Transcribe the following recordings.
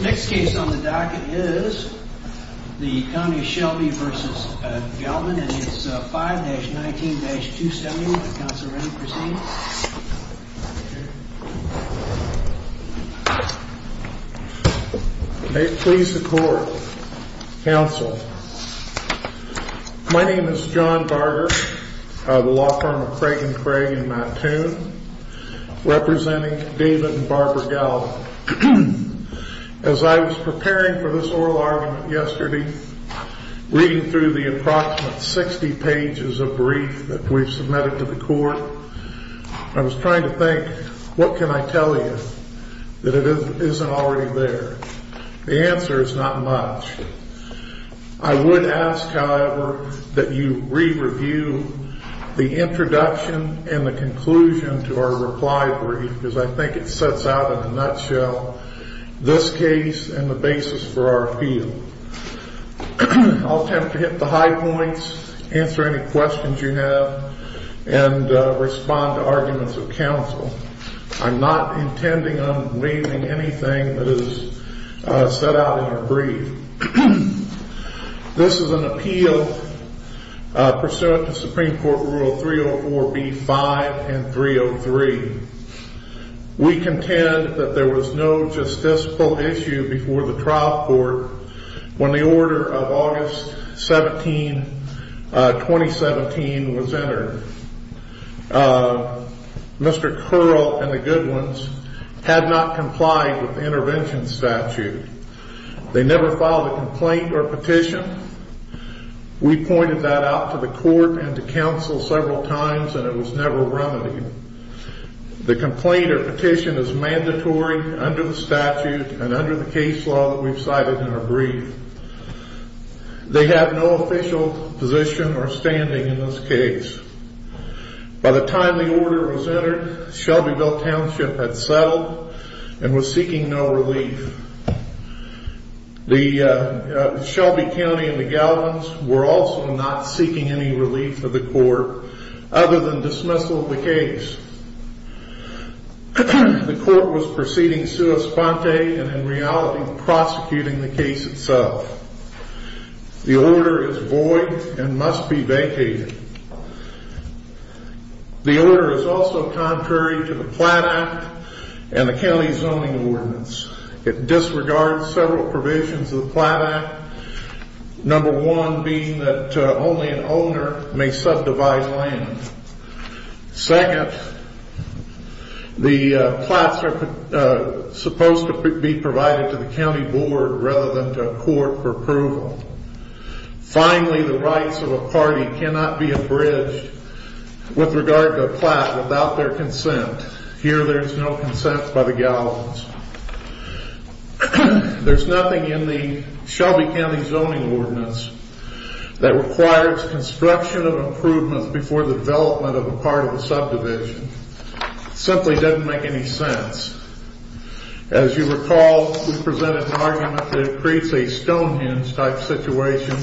Next case on the docket is the County of Shelby v. Galvin and it's 5-19-271. Counselor, please proceed. May it please the court. Counsel, my name is John Barger, the law firm of Craig and Craig and Mattoon. Representing David and Barbara Galvin. As I was preparing for this oral argument yesterday, reading through the approximate 60 pages of brief that we've submitted to the court, I was trying to think, what can I tell you that isn't already there? The answer is not much. I would ask, however, that you re-review the introduction and the conclusion to our reply brief, because I think it sets out in a nutshell this case and the basis for our appeal. I'll attempt to hit the high points, answer any questions you have, and respond to arguments of counsel. I'm not intending on waiving anything that is set out in your brief. This is an appeal pursuant to Supreme Court Rule 304B-5 and 303. We contend that there was no justiciable issue before the trial court when the order of August 17, 2017 was entered. Mr. Curl and the Goodwins had not complied with the intervention statute. They never filed a complaint or petition. We pointed that out to the court and to counsel several times, and it was never remedied. The complaint or petition is mandatory under the statute and under the case law that we've cited in our brief. They have no official position or standing in this case. By the time the order was entered, Shelbyville Township had settled and was seeking no relief. Shelby County and the Goodwins were also not seeking any relief of the court other than dismissal of the case. The court was proceeding sua sponte and in reality prosecuting the case itself. The order is void and must be vacated. The order is also contrary to the Platt Act and the County Zoning Ordinance. It disregards several provisions of the Platt Act, number one being that only an owner may subdivide land. Second, the Platts are supposed to be provided to the County Board rather than to a court for approval. Finally, the rights of a party cannot be abridged with regard to a Platt without their consent. Here there is no consent by the Gallows. There's nothing in the Shelby County Zoning Ordinance that requires construction of improvements before the development of a part of the subdivision. It simply doesn't make any sense. As you recall, we presented an argument that it creates a stonehenge type situation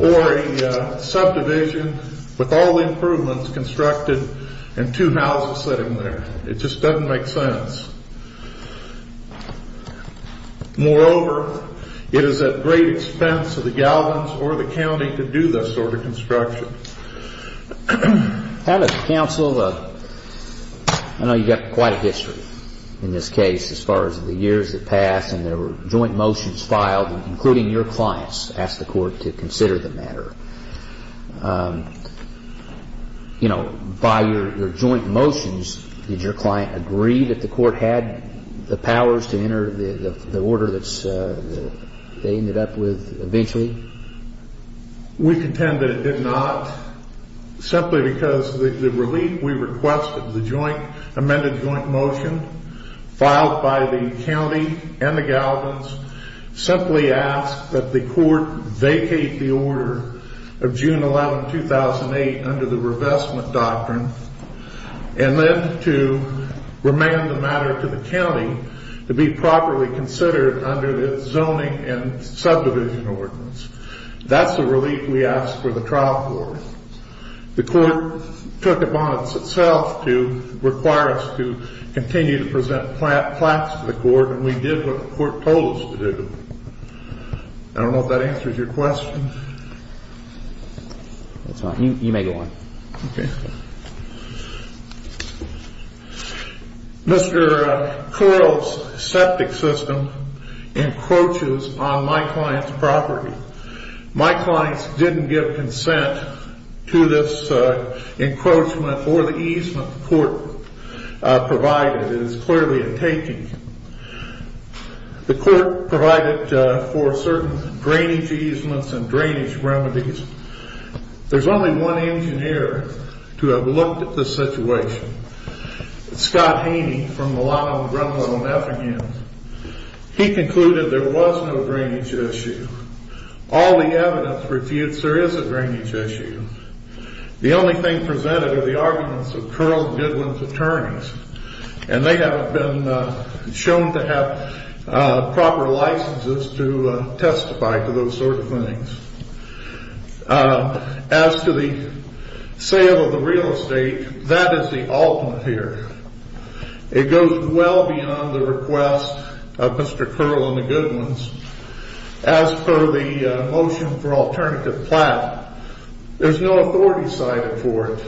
or a subdivision with all the improvements constructed and two houses sitting there. It just doesn't make sense. Moreover, it is at great expense to the Gallows or the County to do this sort of construction. I know you've got quite a history in this case as far as the years that passed and there were joint motions filed, including your clients asked the court to consider the matter. By your joint motions, did your client agree that the court had the powers to enter the order that they ended up with eventually? We contend that it did not, simply because the relief we requested, the joint amended joint motion filed by the County and the Gallows simply asked that the court vacate the order of June 11, 2008 under the revestment doctrine and then to remand the matter to the County to be properly considered under the zoning and subdivision ordinance. That's the relief we asked for the trial court. The court took it upon itself to require us to continue to present plaques to the court and we did what the court told us to do. I don't know if that answers your question. You may go on. Mr. Correll's septic system encroaches on my client's property. My clients didn't give consent to this encroachment or the easement the court provided. It is clearly a taking. The court provided for certain drainage easements and drainage remedies. There's only one engineer to have looked at this situation. Scott Haney from the Long Island Grundle and Effingham. He concluded there was no drainage issue. All the evidence refutes there is a drainage issue. The only thing presented are the arguments of Correll and Goodwin's attorneys and they haven't been shown to have proper licenses to testify to those sort of things. As to the sale of the real estate, that is the ultimate here. It goes well beyond the request of Mr. Correll and the Goodwins. As per the motion for alternative plan, there's no authority cited for it.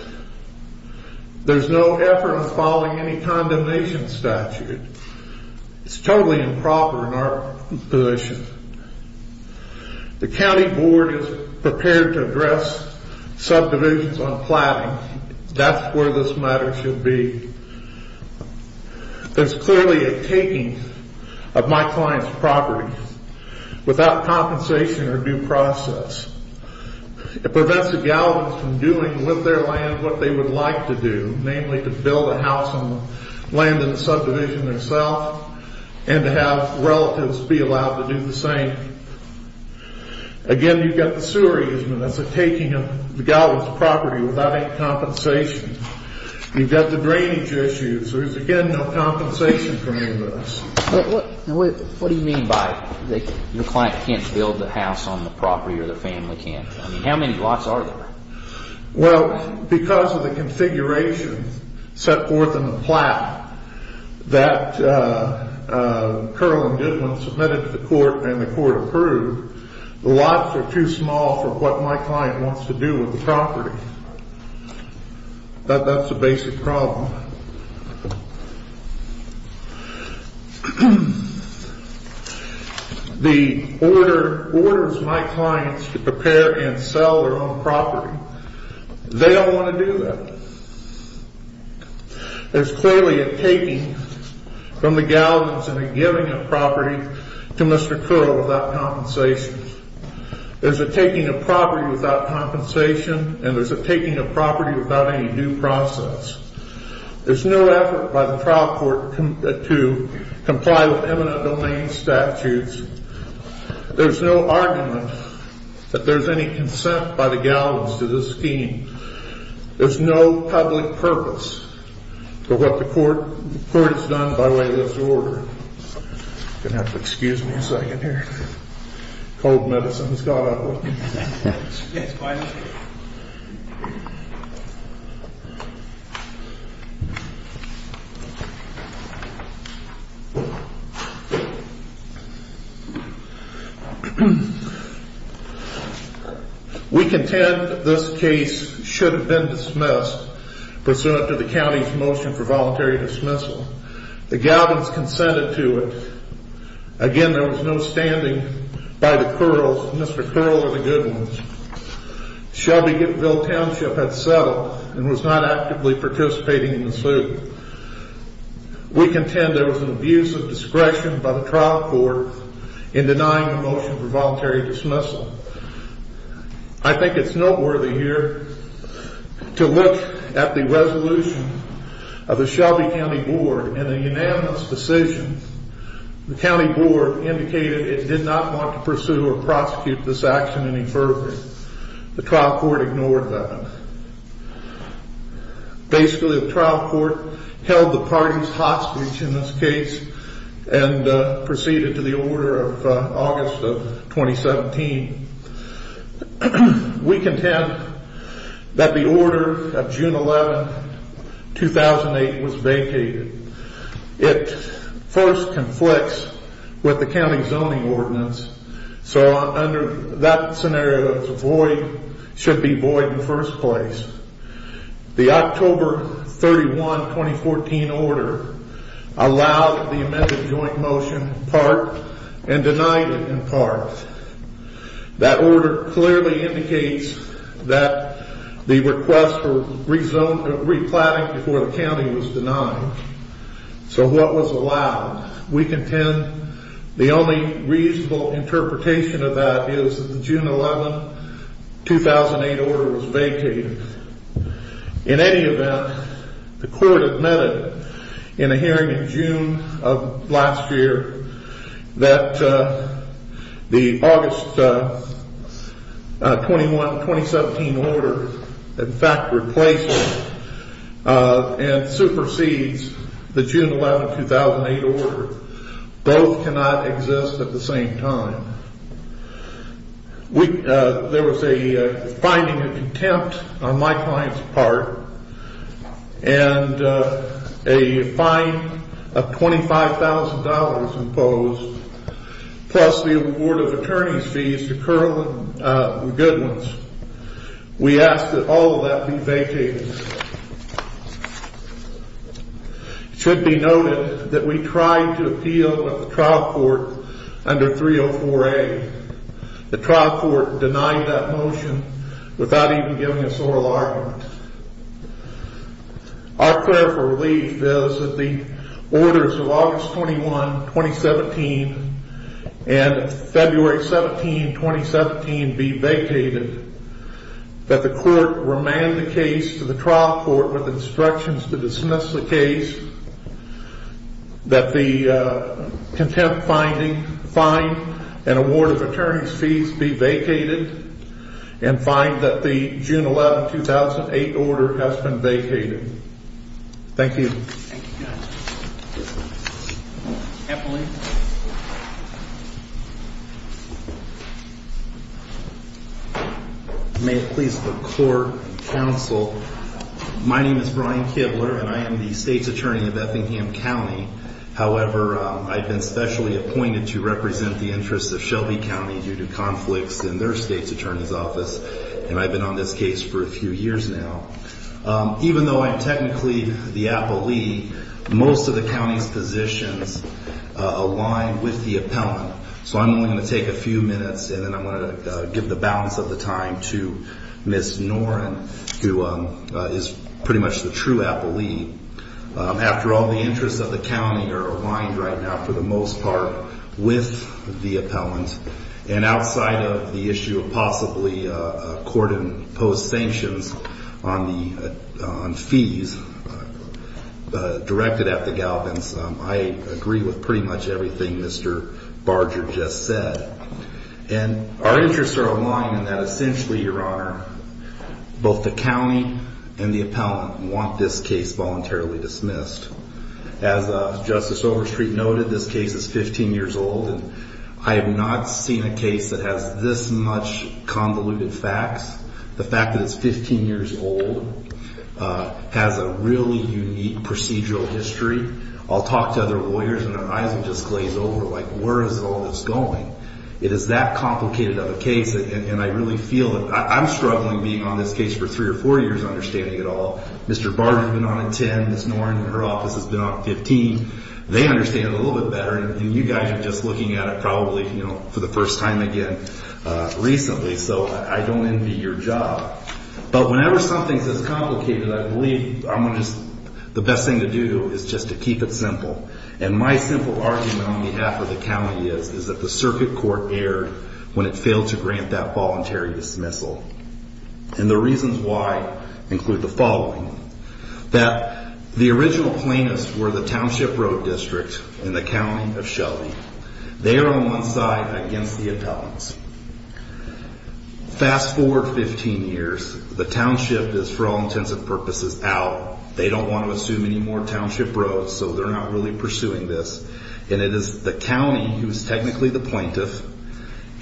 There's no effort in following any condemnation statute. It's totally improper in our position. The county board is prepared to address subdivisions on platting. That's where this matter should be. There's clearly a taking of my client's property without compensation or due process. It prevents the Galvin's from doing with their land what they would like to do, namely to build a house on land in the subdivision themselves and to have relatives be allowed to do the same. Again, you've got the sewer easement. That's a taking of the Galvin's property without any compensation. You've got the drainage issues. There's again no compensation for any of this. What do you mean by your client can't build the house on the property or their family can't? How many lots are there? Well, because of the configuration set forth in the plat that Correll and Goodwin submitted to the court and the court approved, the lots are too small for what my client wants to do with the property. That's the basic problem. The order is my client's to prepare and sell their own property. They don't want to do that. There's clearly a taking from the Galvin's and a giving of property to Mr. Correll without compensation. There's a taking of property without compensation and there's a taking of property without any due process. There's no effort by the trial court to comply with eminent domain statutes. There's no argument that there's any consent by the Galvin's to this scheme. There's no public purpose for what the court has done by way of this order. You're going to have to excuse me a second here. Cold medicine has gone up on me. We contend this case should have been dismissed pursuant to the county's motion for voluntary dismissal. The Galvin's consented to it. Again, there was no standing by Mr. Correll or the Goodwins. Shelbyville Township had settled and was not actively participating in the suit. We contend there was an abuse of discretion by the trial court in denying the motion for voluntary dismissal. I think it's noteworthy here to look at the resolution of the Shelby County Board and the unanimous decision. The county board indicated it did not want to pursue or prosecute this action any further. The trial court ignored that. Basically, the trial court held the parties hostage in this case and proceeded to the order of August of 2017. We contend that the order of June 11, 2008 was vacated. It first conflicts with the county zoning ordinance. So under that scenario, it should be void in the first place. The October 31, 2014 order allowed the amended joint motion part and denied it in part. That order clearly indicates that the request for replatting before the county was denied. So what was allowed? We contend the only reasonable interpretation of that is the June 11, 2008 order was vacated. In any event, the court admitted in a hearing in June of last year that the August 21, 2017 order in fact replaces and supersedes the June 11, 2008 order. Both cannot exist at the same time. There was a finding of contempt on my client's part and a fine of $25,000 imposed plus the award of attorney's fees to Kerlin Goodwins. We ask that all of that be vacated. It should be noted that we tried to appeal at the trial court under 304A. The trial court denied that motion without even giving us oral argument. Our prayer for relief is that the orders of August 21, 2017 and February 17, 2017 be vacated. That the court remand the case to the trial court with instructions to dismiss the case. That the contempt finding, fine and award of attorney's fees be vacated. And find that the June 11, 2008 order has been vacated. Thank you. May it please the court and counsel. My name is Brian Kibler and I am the state's attorney of Effingham County. However, I've been specially appointed to represent the interests of Shelby County due to conflicts in their state's attorney's office. And I've been on this case for a few years now. Even though I'm technically the appellee, most of the county's positions align with the appellant. So I'm only going to take a few minutes and then I'm going to give the balance of the time to Ms. Noren who is pretty much the true appellee. After all, the interests of the county are aligned right now for the most part with the appellant. And outside of the issue of possibly court imposed sanctions on fees directed at the Galvins. I agree with pretty much everything Mr. Barger just said. And our interests are aligned in that essentially, your honor, both the county and the appellant want this case voluntarily dismissed. As Justice Overstreet noted, this case is 15 years old. I have not seen a case that has this much convoluted facts. The fact that it's 15 years old has a really unique procedural history. I'll talk to other lawyers and their eyes will just glaze over like where is all this going? It is that complicated of a case and I really feel it. I'm struggling being on this case for three or four years understanding it all. Mr. Barger's been on it 10, Ms. Noren in her office has been on it 15. They understand it a little bit better and you guys are just looking at it probably for the first time again recently. So I don't envy your job. But whenever something's this complicated, I believe the best thing to do is just to keep it simple. And my simple argument on behalf of the county is that the circuit court erred when it failed to grant that voluntary dismissal. And the reasons why include the following. That the original plaintiffs were the Township Road District in the county of Shelby. They are on one side against the appellants. Fast forward 15 years. The township is for all intents and purposes out. They don't want to assume any more township roads so they're not really pursuing this. And it is the county who's technically the plaintiff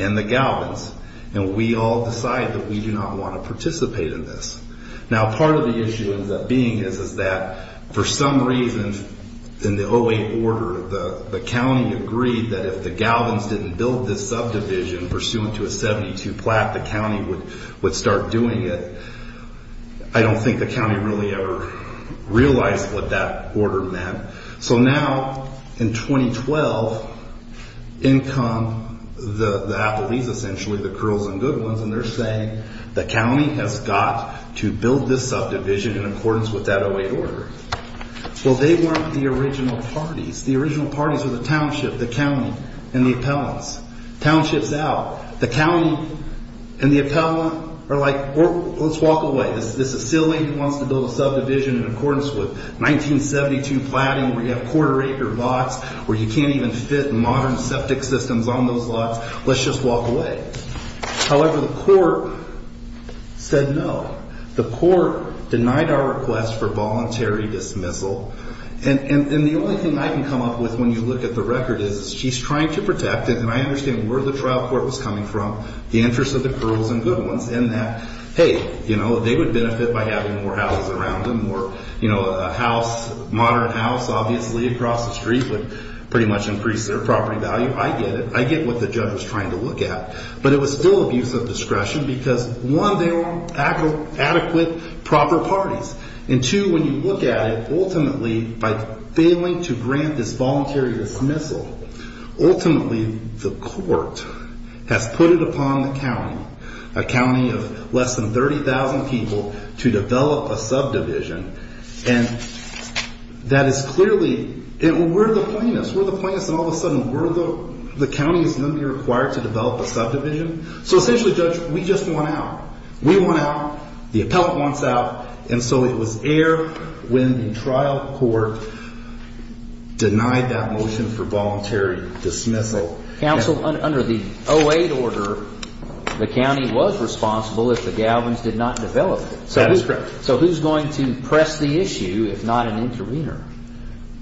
and the galvans. And we all decide that we do not want to participate in this. Now part of the issue of that being is that for some reason in the 08 order, the county agreed that if the galvans didn't build this subdivision pursuant to a 72 plat, the county would start doing it. I don't think the county really ever realized what that order meant. So now in 2012, in come the appellees essentially, the curls and good ones, and they're saying the county has got to build this subdivision in accordance with that 08 order. Well, they weren't the original parties. The original parties were the township, the county, and the appellants. Township's out. The county and the appellant are like, let's walk away. This is silly. He wants to build a subdivision in accordance with 1972 platting where you have quarter acre lots, where you can't even fit modern septic systems on those lots. Let's just walk away. However, the court said no. The court denied our request for voluntary dismissal. And the only thing I can come up with when you look at the record is she's trying to protect it, and I understand where the trial court was coming from, the interest of the curls and good ones, and that, hey, you know, they would benefit by having more houses around them or, you know, a house, a modern house, obviously, across the street would pretty much increase their property value. I get it. I get what the judge was trying to look at. But it was still abuse of discretion because, one, they weren't adequate proper parties, and, two, when you look at it, ultimately, by failing to grant this voluntary dismissal, ultimately the court has put it upon the county, a county of less than 30,000 people, to develop a subdivision. And that is clearly we're the plaintiffs. We're the plaintiffs, and all of a sudden the county is going to be required to develop a subdivision. So essentially, judge, we just want out. We want out. The appellant wants out. And so it was error when the trial court denied that motion for voluntary dismissal. Counsel, under the 08 order, the county was responsible if the Galvins did not develop it. That is correct. So who's going to press the issue if not an intervener?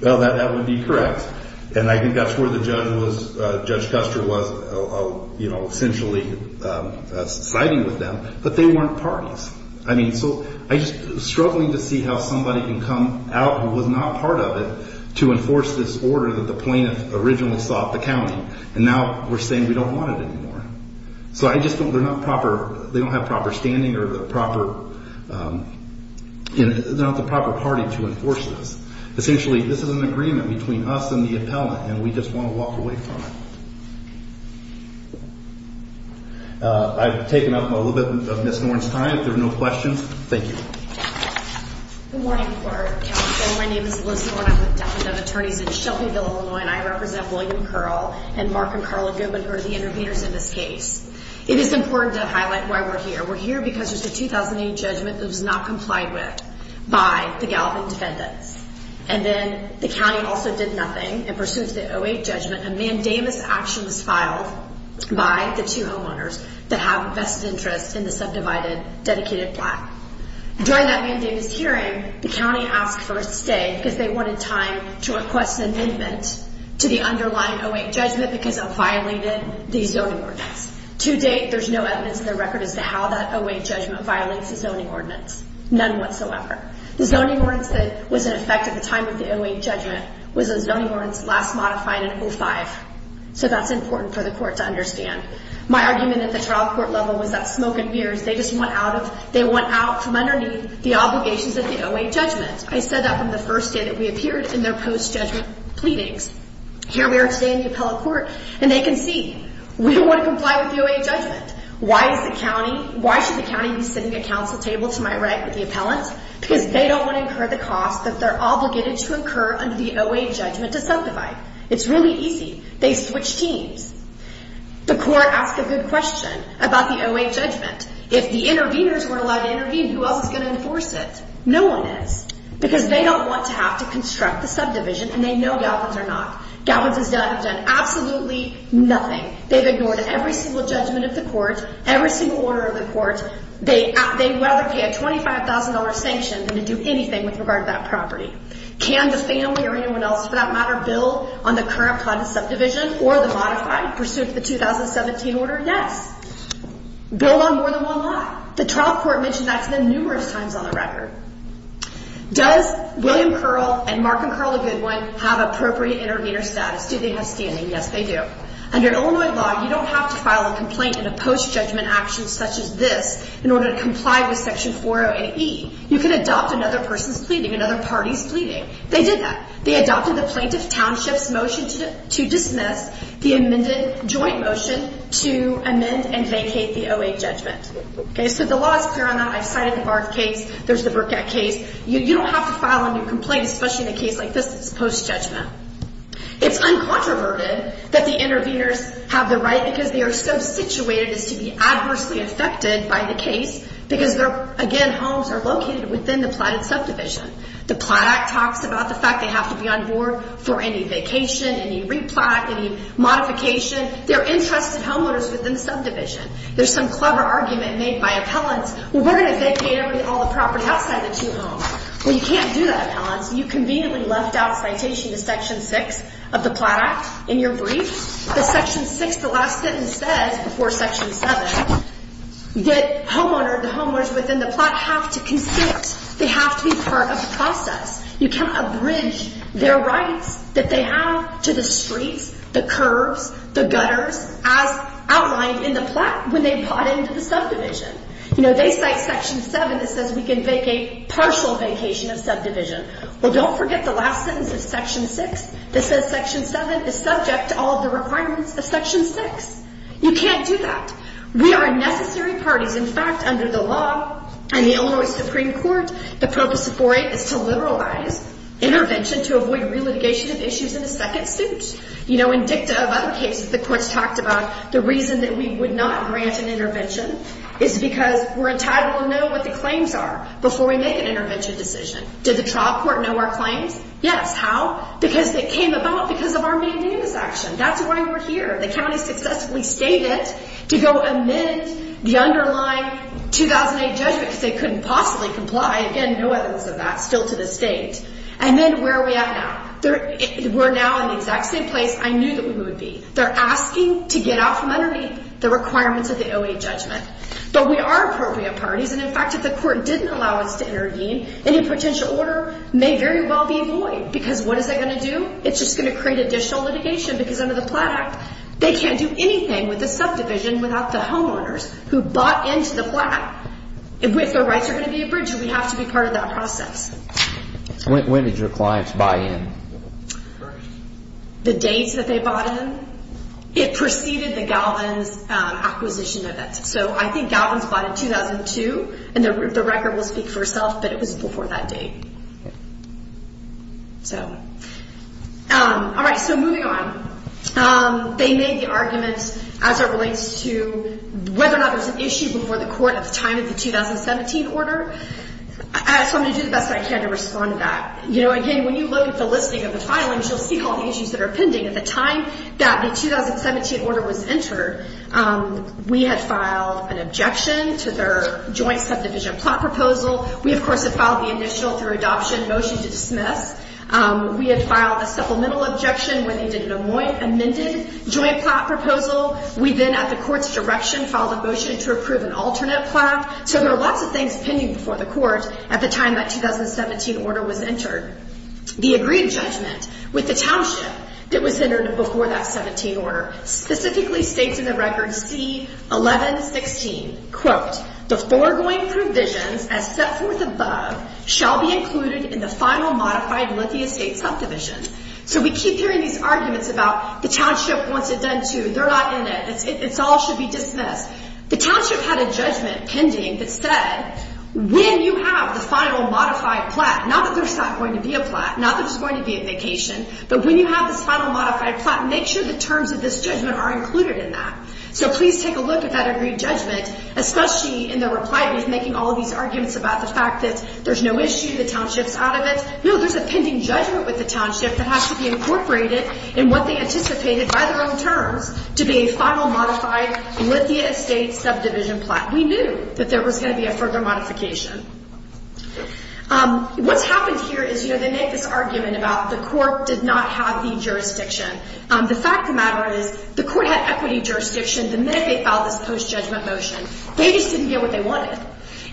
Well, that would be correct. And I think that's where the judge was, Judge Custer was, you know, essentially siding with them. But they weren't parties. I mean, so I'm just struggling to see how somebody can come out who was not part of it to enforce this order that the plaintiff originally sought the county. And now we're saying we don't want it anymore. So I just don't, they're not proper, they don't have proper standing or the proper, they're not the proper party to enforce this. Essentially, this is an agreement between us and the appellant, and we just want to walk away from it. I've taken up a little bit of Ms. Norton's time. If there are no questions, thank you. Good morning, Counsel. My name is Liz Norton. I'm with Defendant Attorneys in Shelbyville, Illinois, and I represent William Curl and Mark and Carla Goodwin, who are the interveners in this case. It is important to highlight why we're here. We're here because there's a 2008 judgment that was not complied with by the Galvin defendants. And then the county also did nothing, and pursuant to the 2008 judgment, a mandamus action was filed by the two homeowners that have a vested interest in the subdivided dedicated plot. During that mandamus hearing, the county asked for a stay because they wanted time to request an amendment to the underlying 2008 judgment because it violated the zoning ordinance. To date, there's no evidence in the record as to how that 2008 judgment violates the zoning ordinance, none whatsoever. The zoning ordinance that was in effect at the time of the 2008 judgment was a zoning ordinance last modified in 2005, so that's important for the court to understand. My argument at the trial court level was that smoke and mirrors, they just went out from underneath the obligations of the 2008 judgment. I said that from the first day that we appeared in their post-judgment pleadings. Here we are today in the appellate court, and they can see we don't want to comply with the 2008 judgment. Why should the county be sitting at counsel table to my right with the appellant? Because they don't want to incur the cost that they're obligated to incur under the 2008 judgment to subdivide. It's really easy. They switch teams. The court asked a good question about the 2008 judgment. If the interveners weren't allowed to intervene, who else is going to enforce it? No one is because they don't want to have to construct the subdivision, and they know Galvin's are not. Galvin's have done absolutely nothing. They've ignored every single judgment of the court, every single order of the court. They'd rather pay a $25,000 sanction than to do anything with regard to that property. Can the family or anyone else, for that matter, build on the current plot of subdivision or the modified pursuit of the 2017 order? Yes. Build on more than one lot. The trial court mentioned that to them numerous times on the record. Does William Curl and Mark and Carla Goodwin have appropriate intervener status? Do they have standing? Yes, they do. Under Illinois law, you don't have to file a complaint in a post-judgment action such as this in order to comply with Section 408E. You can adopt another person's pleading, another party's pleading. They did that. They adopted the plaintiff township's motion to dismiss the amended joint motion to amend and vacate the 2008 judgment. So the law is clear on that. I've cited the Barth case. There's the Burkett case. You don't have to file a new complaint, especially in a case like this that's post-judgment. It's uncontroverted that the interveners have the right because they are so situated as to be adversely affected by the case because their, again, homes are located within the plotted subdivision. The Plot Act talks about the fact they have to be on board for any vacation, any replot, any modification. They're entrusted homeowners within the subdivision. There's some clever argument made by appellants. Well, we're going to vacate all the property outside the two homes. Well, you can't do that, appellants. You conveniently left out citation to Section 6 of the Plot Act in your brief. The Section 6, the last sentence says, before Section 7, that homeowners within the plot have to consent. They have to be part of the process. You can't abridge their rights that they have to the streets, the curves, the gutters, as outlined in the plot when they plot into the subdivision. You know, they cite Section 7 that says we can vacate partial vacation of subdivision. Well, don't forget the last sentence of Section 6 that says Section 7 is subject to all of the requirements of Section 6. You can't do that. We are a necessary parties. In fact, under the law and the Illinois Supreme Court, the purpose of 4A is to liberalize intervention to avoid relitigation of issues in a second suit. You know, in dicta of other cases, the courts talked about the reason that we would not grant an intervention is because we're entitled to know what the claims are before we make an intervention decision. Did the trial court know our claims? Yes. How? Because they came about because of our maintenance action. That's why we're here. The county successfully stated to go amend the underlying 2008 judgment because they couldn't possibly comply. Again, no evidence of that still to this date. And then where are we at now? We're now in the exact same place I knew that we would be. They're asking to get out from underneath the requirements of the 2008 judgment. But we are appropriate parties. And, in fact, if the court didn't allow us to intervene, any potential order may very well be void because what is that going to do? It's just going to create additional litigation because under the Platt Act, they can't do anything with the subdivision without the homeowners who bought into the Platt Act. If their rights are going to be abridged, we have to be part of that process. When did your clients buy in? The dates that they bought in? It preceded the Galvin's acquisition of it. So I think Galvin's bought in 2002, and the record will speak for itself, but it was before that date. All right, so moving on. They made the argument as it relates to whether or not it was an issue before the court at the time of the 2017 order. So I'm going to do the best I can to respond to that. Again, when you look at the listing of the filings, you'll see all the issues that are pending. At the time that the 2017 order was entered, we had filed an objection to their joint subdivision Platt proposal. We, of course, had filed the initial through adoption motion to dismiss. We had filed a supplemental objection when they did an amended joint Platt proposal. We then, at the court's direction, filed a motion to approve an alternate Platt. So there are lots of things pending before the court at the time that 2017 order was entered. The agreed judgment with the township that was entered before that 17 order specifically states in the record C1116, quote, the foregoing provisions as set forth above shall be included in the final modified Lithia State subdivision. So we keep hearing these arguments about the township wants it done too. They're not in it. It all should be dismissed. The township had a judgment pending that said when you have the final modified Platt, not that there's not going to be a Platt, not that there's going to be a vacation, but when you have this final modified Platt, make sure the terms of this judgment are included in that. So please take a look at that agreed judgment, especially in their reply to making all these arguments about the fact that there's no issue, the township's out of it. No, there's a pending judgment with the township that has to be incorporated in what they anticipated by their own terms to be a final modified Lithia State subdivision Platt. We knew that there was going to be a further modification. What's happened here is, you know, they make this argument about the court did not have the jurisdiction. The fact of the matter is the court had equity jurisdiction the minute they filed this post-judgment motion. They just didn't get what they wanted.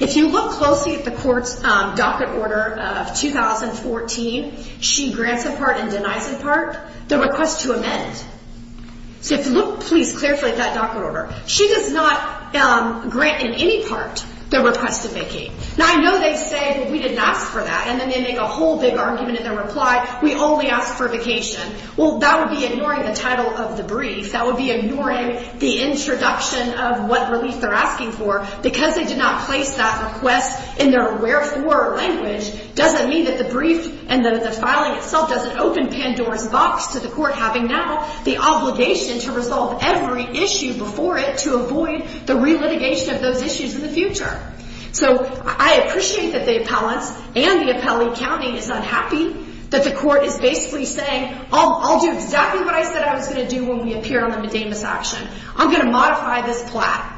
If you look closely at the court's docket order of 2014, she grants in part and denies in part the request to amend. So if you look, please, carefully at that docket order. She does not grant in any part the request to vacate. Now, I know they say, well, we didn't ask for that. And then they make a whole big argument in their reply, we only asked for vacation. Well, that would be ignoring the title of the brief. That would be ignoring the introduction of what relief they're asking for. Because they did not place that request in their wherefore language doesn't mean that the brief and that the filing itself doesn't open Pandora's box to the court having now the obligation to resolve every issue before it to avoid the relitigation of those issues in the future. So I appreciate that the appellants and the appellee county is unhappy that the court is basically saying, I'll do exactly what I said I was going to do when we appear on the medamus action. I'm going to modify this plat.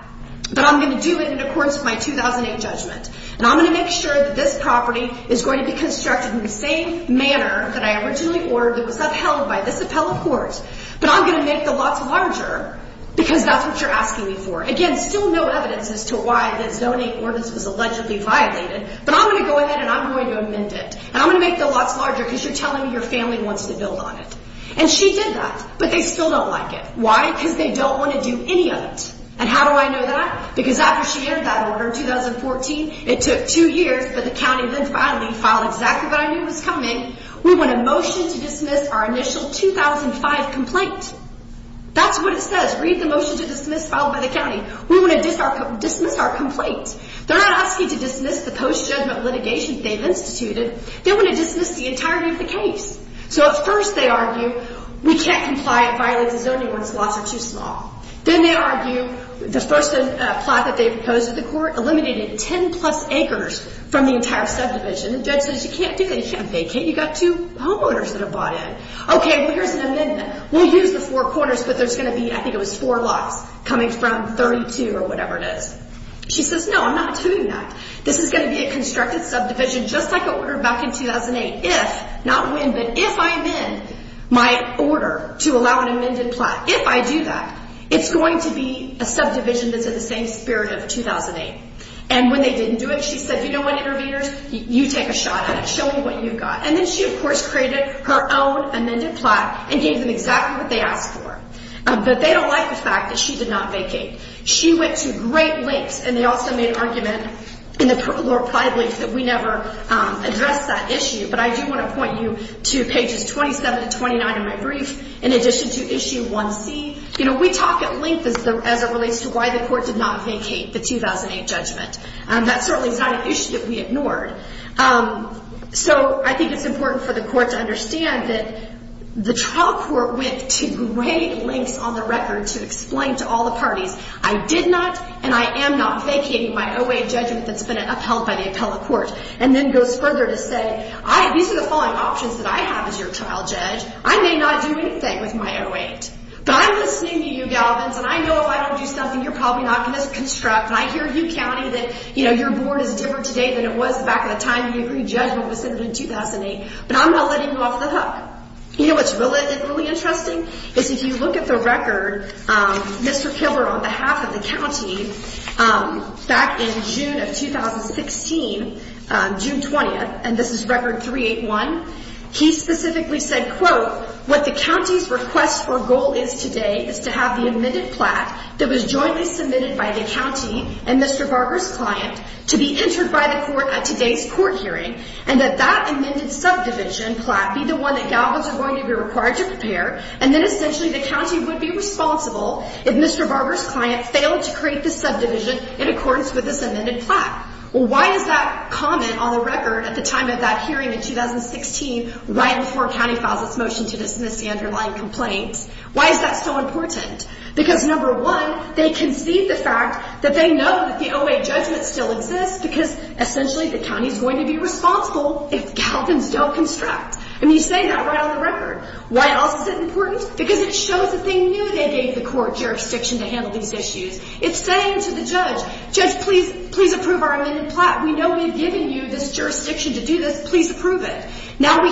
But I'm going to do it in accordance with my 2008 judgment. And I'm going to make sure that this property is going to be constructed in the same manner that I originally ordered that was upheld by this appellate court. But I'm going to make the lots larger because that's what you're asking me for. Again, still no evidence as to why the 2008 ordinance was allegedly violated. But I'm going to go ahead and I'm going to amend it. And I'm going to make the lots larger because you're telling me your family wants to build on it. And she did that. But they still don't like it. Why? Because they don't want to do any of it. And how do I know that? Why? Because after she entered that order in 2014, it took two years, but the county then finally filed exactly what I knew was coming. We want a motion to dismiss our initial 2005 complaint. That's what it says. Read the motion to dismiss filed by the county. We want to dismiss our complaint. They're not asking to dismiss the post-judgment litigation they've instituted. They want to dismiss the entirety of the case. So at first they argue, we can't comply. It violates the zoning ordinance. The lots are too small. Then they argue the first plot that they proposed to the court eliminated 10-plus acres from the entire subdivision. The judge says you can't do that. You can't vacate. You've got two homeowners that have bought in. Okay, well, here's an amendment. We'll use the four corners, but there's going to be, I think it was four lots coming from 32 or whatever it is. She says, no, I'm not doing that. This is going to be a constructed subdivision just like I ordered back in 2008 if, not when, but if I amend my order to allow an amended plot. If I do that, it's going to be a subdivision that's in the same spirit of 2008. And when they didn't do it, she said, you know what, interveners, you take a shot at it. Show me what you've got. And then she, of course, created her own amended plot and gave them exactly what they asked for. But they don't like the fact that she did not vacate. She went to great lengths, and they also made an argument in the Lord Plyleaf that we never addressed that issue. But I do want to point you to pages 27 to 29 of my brief in addition to issue 1C. You know, we talk at length as it relates to why the court did not vacate the 2008 judgment. That certainly is not an issue that we ignored. So I think it's important for the court to understand that the trial court went to great lengths on the record to explain to all the parties, I did not and I am not vacating my OA judgment that's been upheld by the appellate court, and then goes further to say, these are the following options that I have as your trial judge. I may not do anything with my 08, but I'm listening to you, Galvins, and I know if I don't do something, you're probably not going to construct, and I hear you counting that, you know, your board is different today than it was back in the time the agreed judgment was submitted in 2008, but I'm not letting you off the hook. You know what's really interesting is if you look at the record, Mr. Killer, on behalf of the county, back in June of 2016, June 20th, and this is record 381, he specifically said, quote, what the county's request or goal is today is to have the amended plat that was jointly submitted by the county and Mr. Barber's client to be entered by the court at today's court hearing, and that that amended subdivision plat be the one that Galvins is going to be required to prepare, and then essentially the county would be responsible if Mr. Barber's client failed to create the subdivision in accordance with this amended plat. Well, why is that comment on the record at the time of that hearing in 2016, right before a county files its motion to dismiss the underlying complaint? Why is that so important? Because number one, they concede the fact that they know that the 08 judgment still exists because essentially the county's going to be responsible if Galvins don't construct. I mean, you say that right on the record. Why else is it important? Because it shows that they knew they gave the court jurisdiction to handle these issues. It's saying to the judge, judge, please approve our amended plat. We know we've given you this jurisdiction to do this. Please approve it. Now we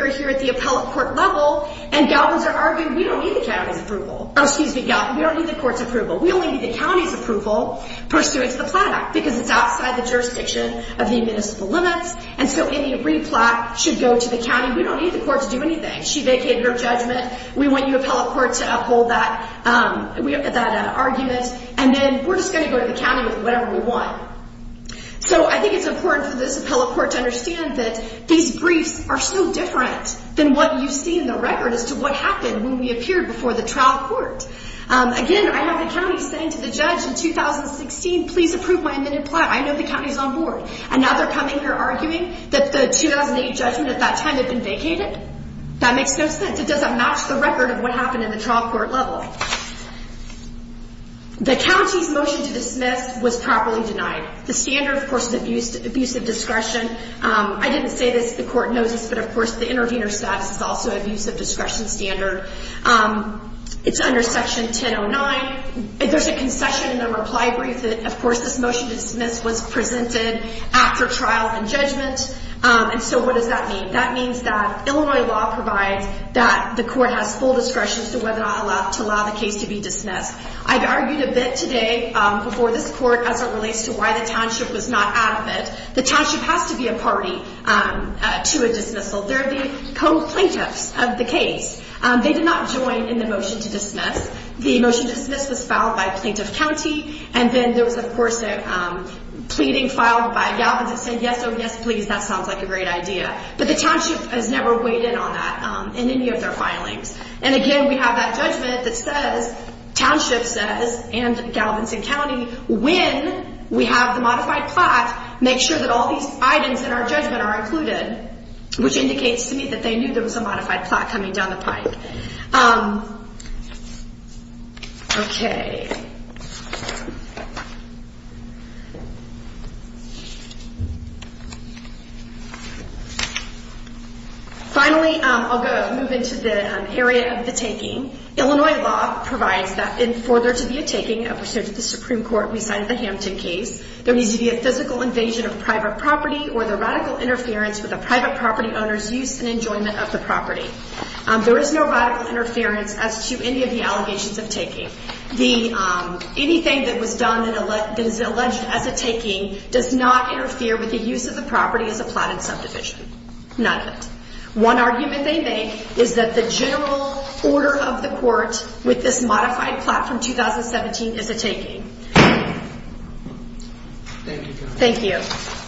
are here at the appellate court level, and Galvins are arguing we don't need the county's approval. Oh, excuse me, Galvins, we don't need the court's approval. We only need the county's approval pursuant to the plat act because it's outside the jurisdiction of the admissible limits, and so any replat should go to the county. We don't need the court to do anything. She vacated her judgment. We want your appellate court to uphold that argument, and then we're just going to go to the county with whatever we want. So I think it's important for this appellate court to understand that these briefs are so different than what you see in the record as to what happened when we appeared before the trial court. Again, I have the county saying to the judge in 2016, please approve my amended plat. I know the county's on board, and now they're coming here arguing that the 2008 judgment at that time had been vacated. That makes no sense. It doesn't match the record of what happened in the trial court level. The county's motion to dismiss was properly denied. The standard, of course, is abusive discretion. I didn't say this. The court knows this, but, of course, the intervener status is also abusive discretion standard. It's under Section 1009. There's a concession in the reply brief that, of course, this motion to dismiss was presented after trial and judgment, and so what does that mean? That means that Illinois law provides that the court has full discretion as to whether or not to allow the case to be dismissed. I've argued a bit today before this court as it relates to why the township was not adequate. The township has to be a party to a dismissal. They're the co-plaintiffs of the case. They did not join in the motion to dismiss. The motion to dismiss was filed by Plaintiff County, and then there was, of course, a pleading filed by Galvin's that said, yes, oh, yes, please, that sounds like a great idea. But the township has never weighed in on that in any of their filings. And, again, we have that judgment that says, township says and Galvin's and county, when we have the modified plot, make sure that all these items in our judgment are included, which indicates to me that they knew there was a modified plot coming down the pipe. Okay. Finally, I'll move into the area of the taking. Illinois law provides that for there to be a taking of the Supreme Court beside the Hampton case, there needs to be a physical invasion of private property or the radical interference with a private property owner's use and enjoyment of the property. There is no radical interference as to any of the allegations of taking. Anything that was done that is alleged as a taking does not interfere with the use of the property as a plotted subdivision. None of it. One argument they make is that the general order of the court with this modified plot from 2017 is a taking. Thank you. Thank you. Thank you.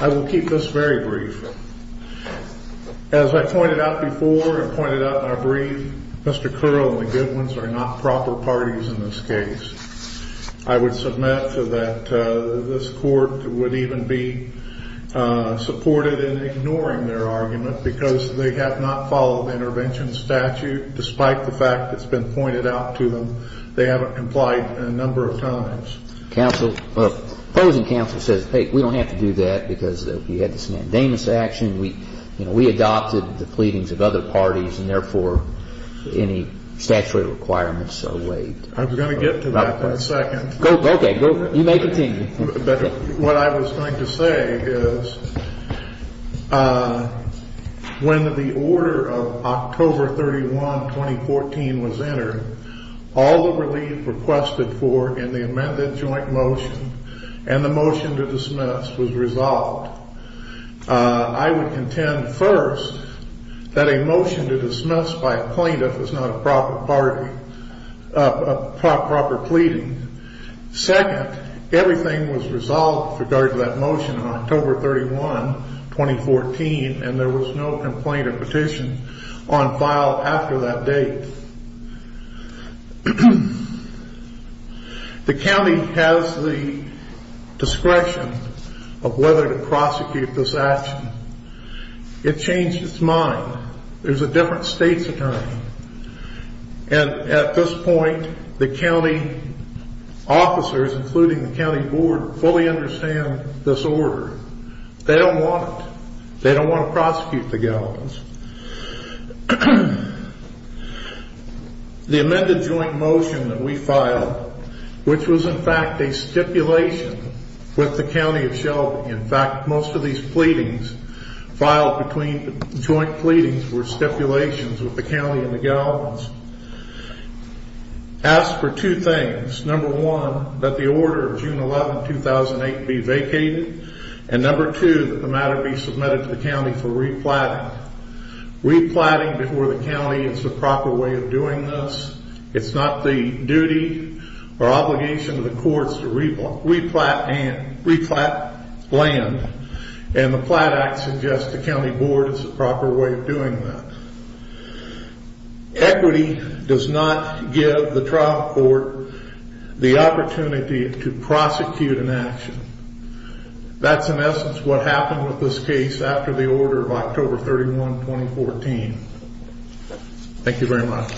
I will keep this very brief. As I pointed out before and pointed out in our brief, Mr. Curl and the Goodwins are not proper parties in this case. I would submit to that this court would even be supported in ignoring their argument because they have not followed intervention statute despite the fact that's been pointed out to them. They haven't complied a number of times. Counsel, opposing counsel says, hey, we don't have to do that because we had this mandamus action. We adopted the pleadings of other parties and, therefore, any statutory requirements await. I was going to get to that in a second. Okay. You may continue. What I was going to say is when the order of October 31, 2014, was entered, all the relief requested for in the amended joint motion and the motion to dismiss was resolved. I would contend, first, that a motion to dismiss by a plaintiff is not a proper party, a proper pleading. Second, everything was resolved with regard to that motion on October 31, 2014, and there was no complaint or petition on file after that date. The county has the discretion of whether to prosecute this action. It changed its mind. There's a different state's attorney. And at this point, the county officers, including the county board, fully understand this order. They don't want it. They don't want to prosecute the gallows. The amended joint motion that we filed, which was, in fact, a stipulation with the county of Shelby. In fact, most of these pleadings filed between joint pleadings were stipulations with the county and the gallows. As for two things, number one, that the order of June 11, 2008, be vacated, and number two, that the matter be submitted to the county for replatting. Replatting before the county is the proper way of doing this. It's not the duty or obligation of the courts to replat land, and the Platt Act suggests the county board is the proper way of doing that. Equity does not give the trial court the opportunity to prosecute an action. That's, in essence, what happened with this case after the order of October 31, 2014. Thank you very much.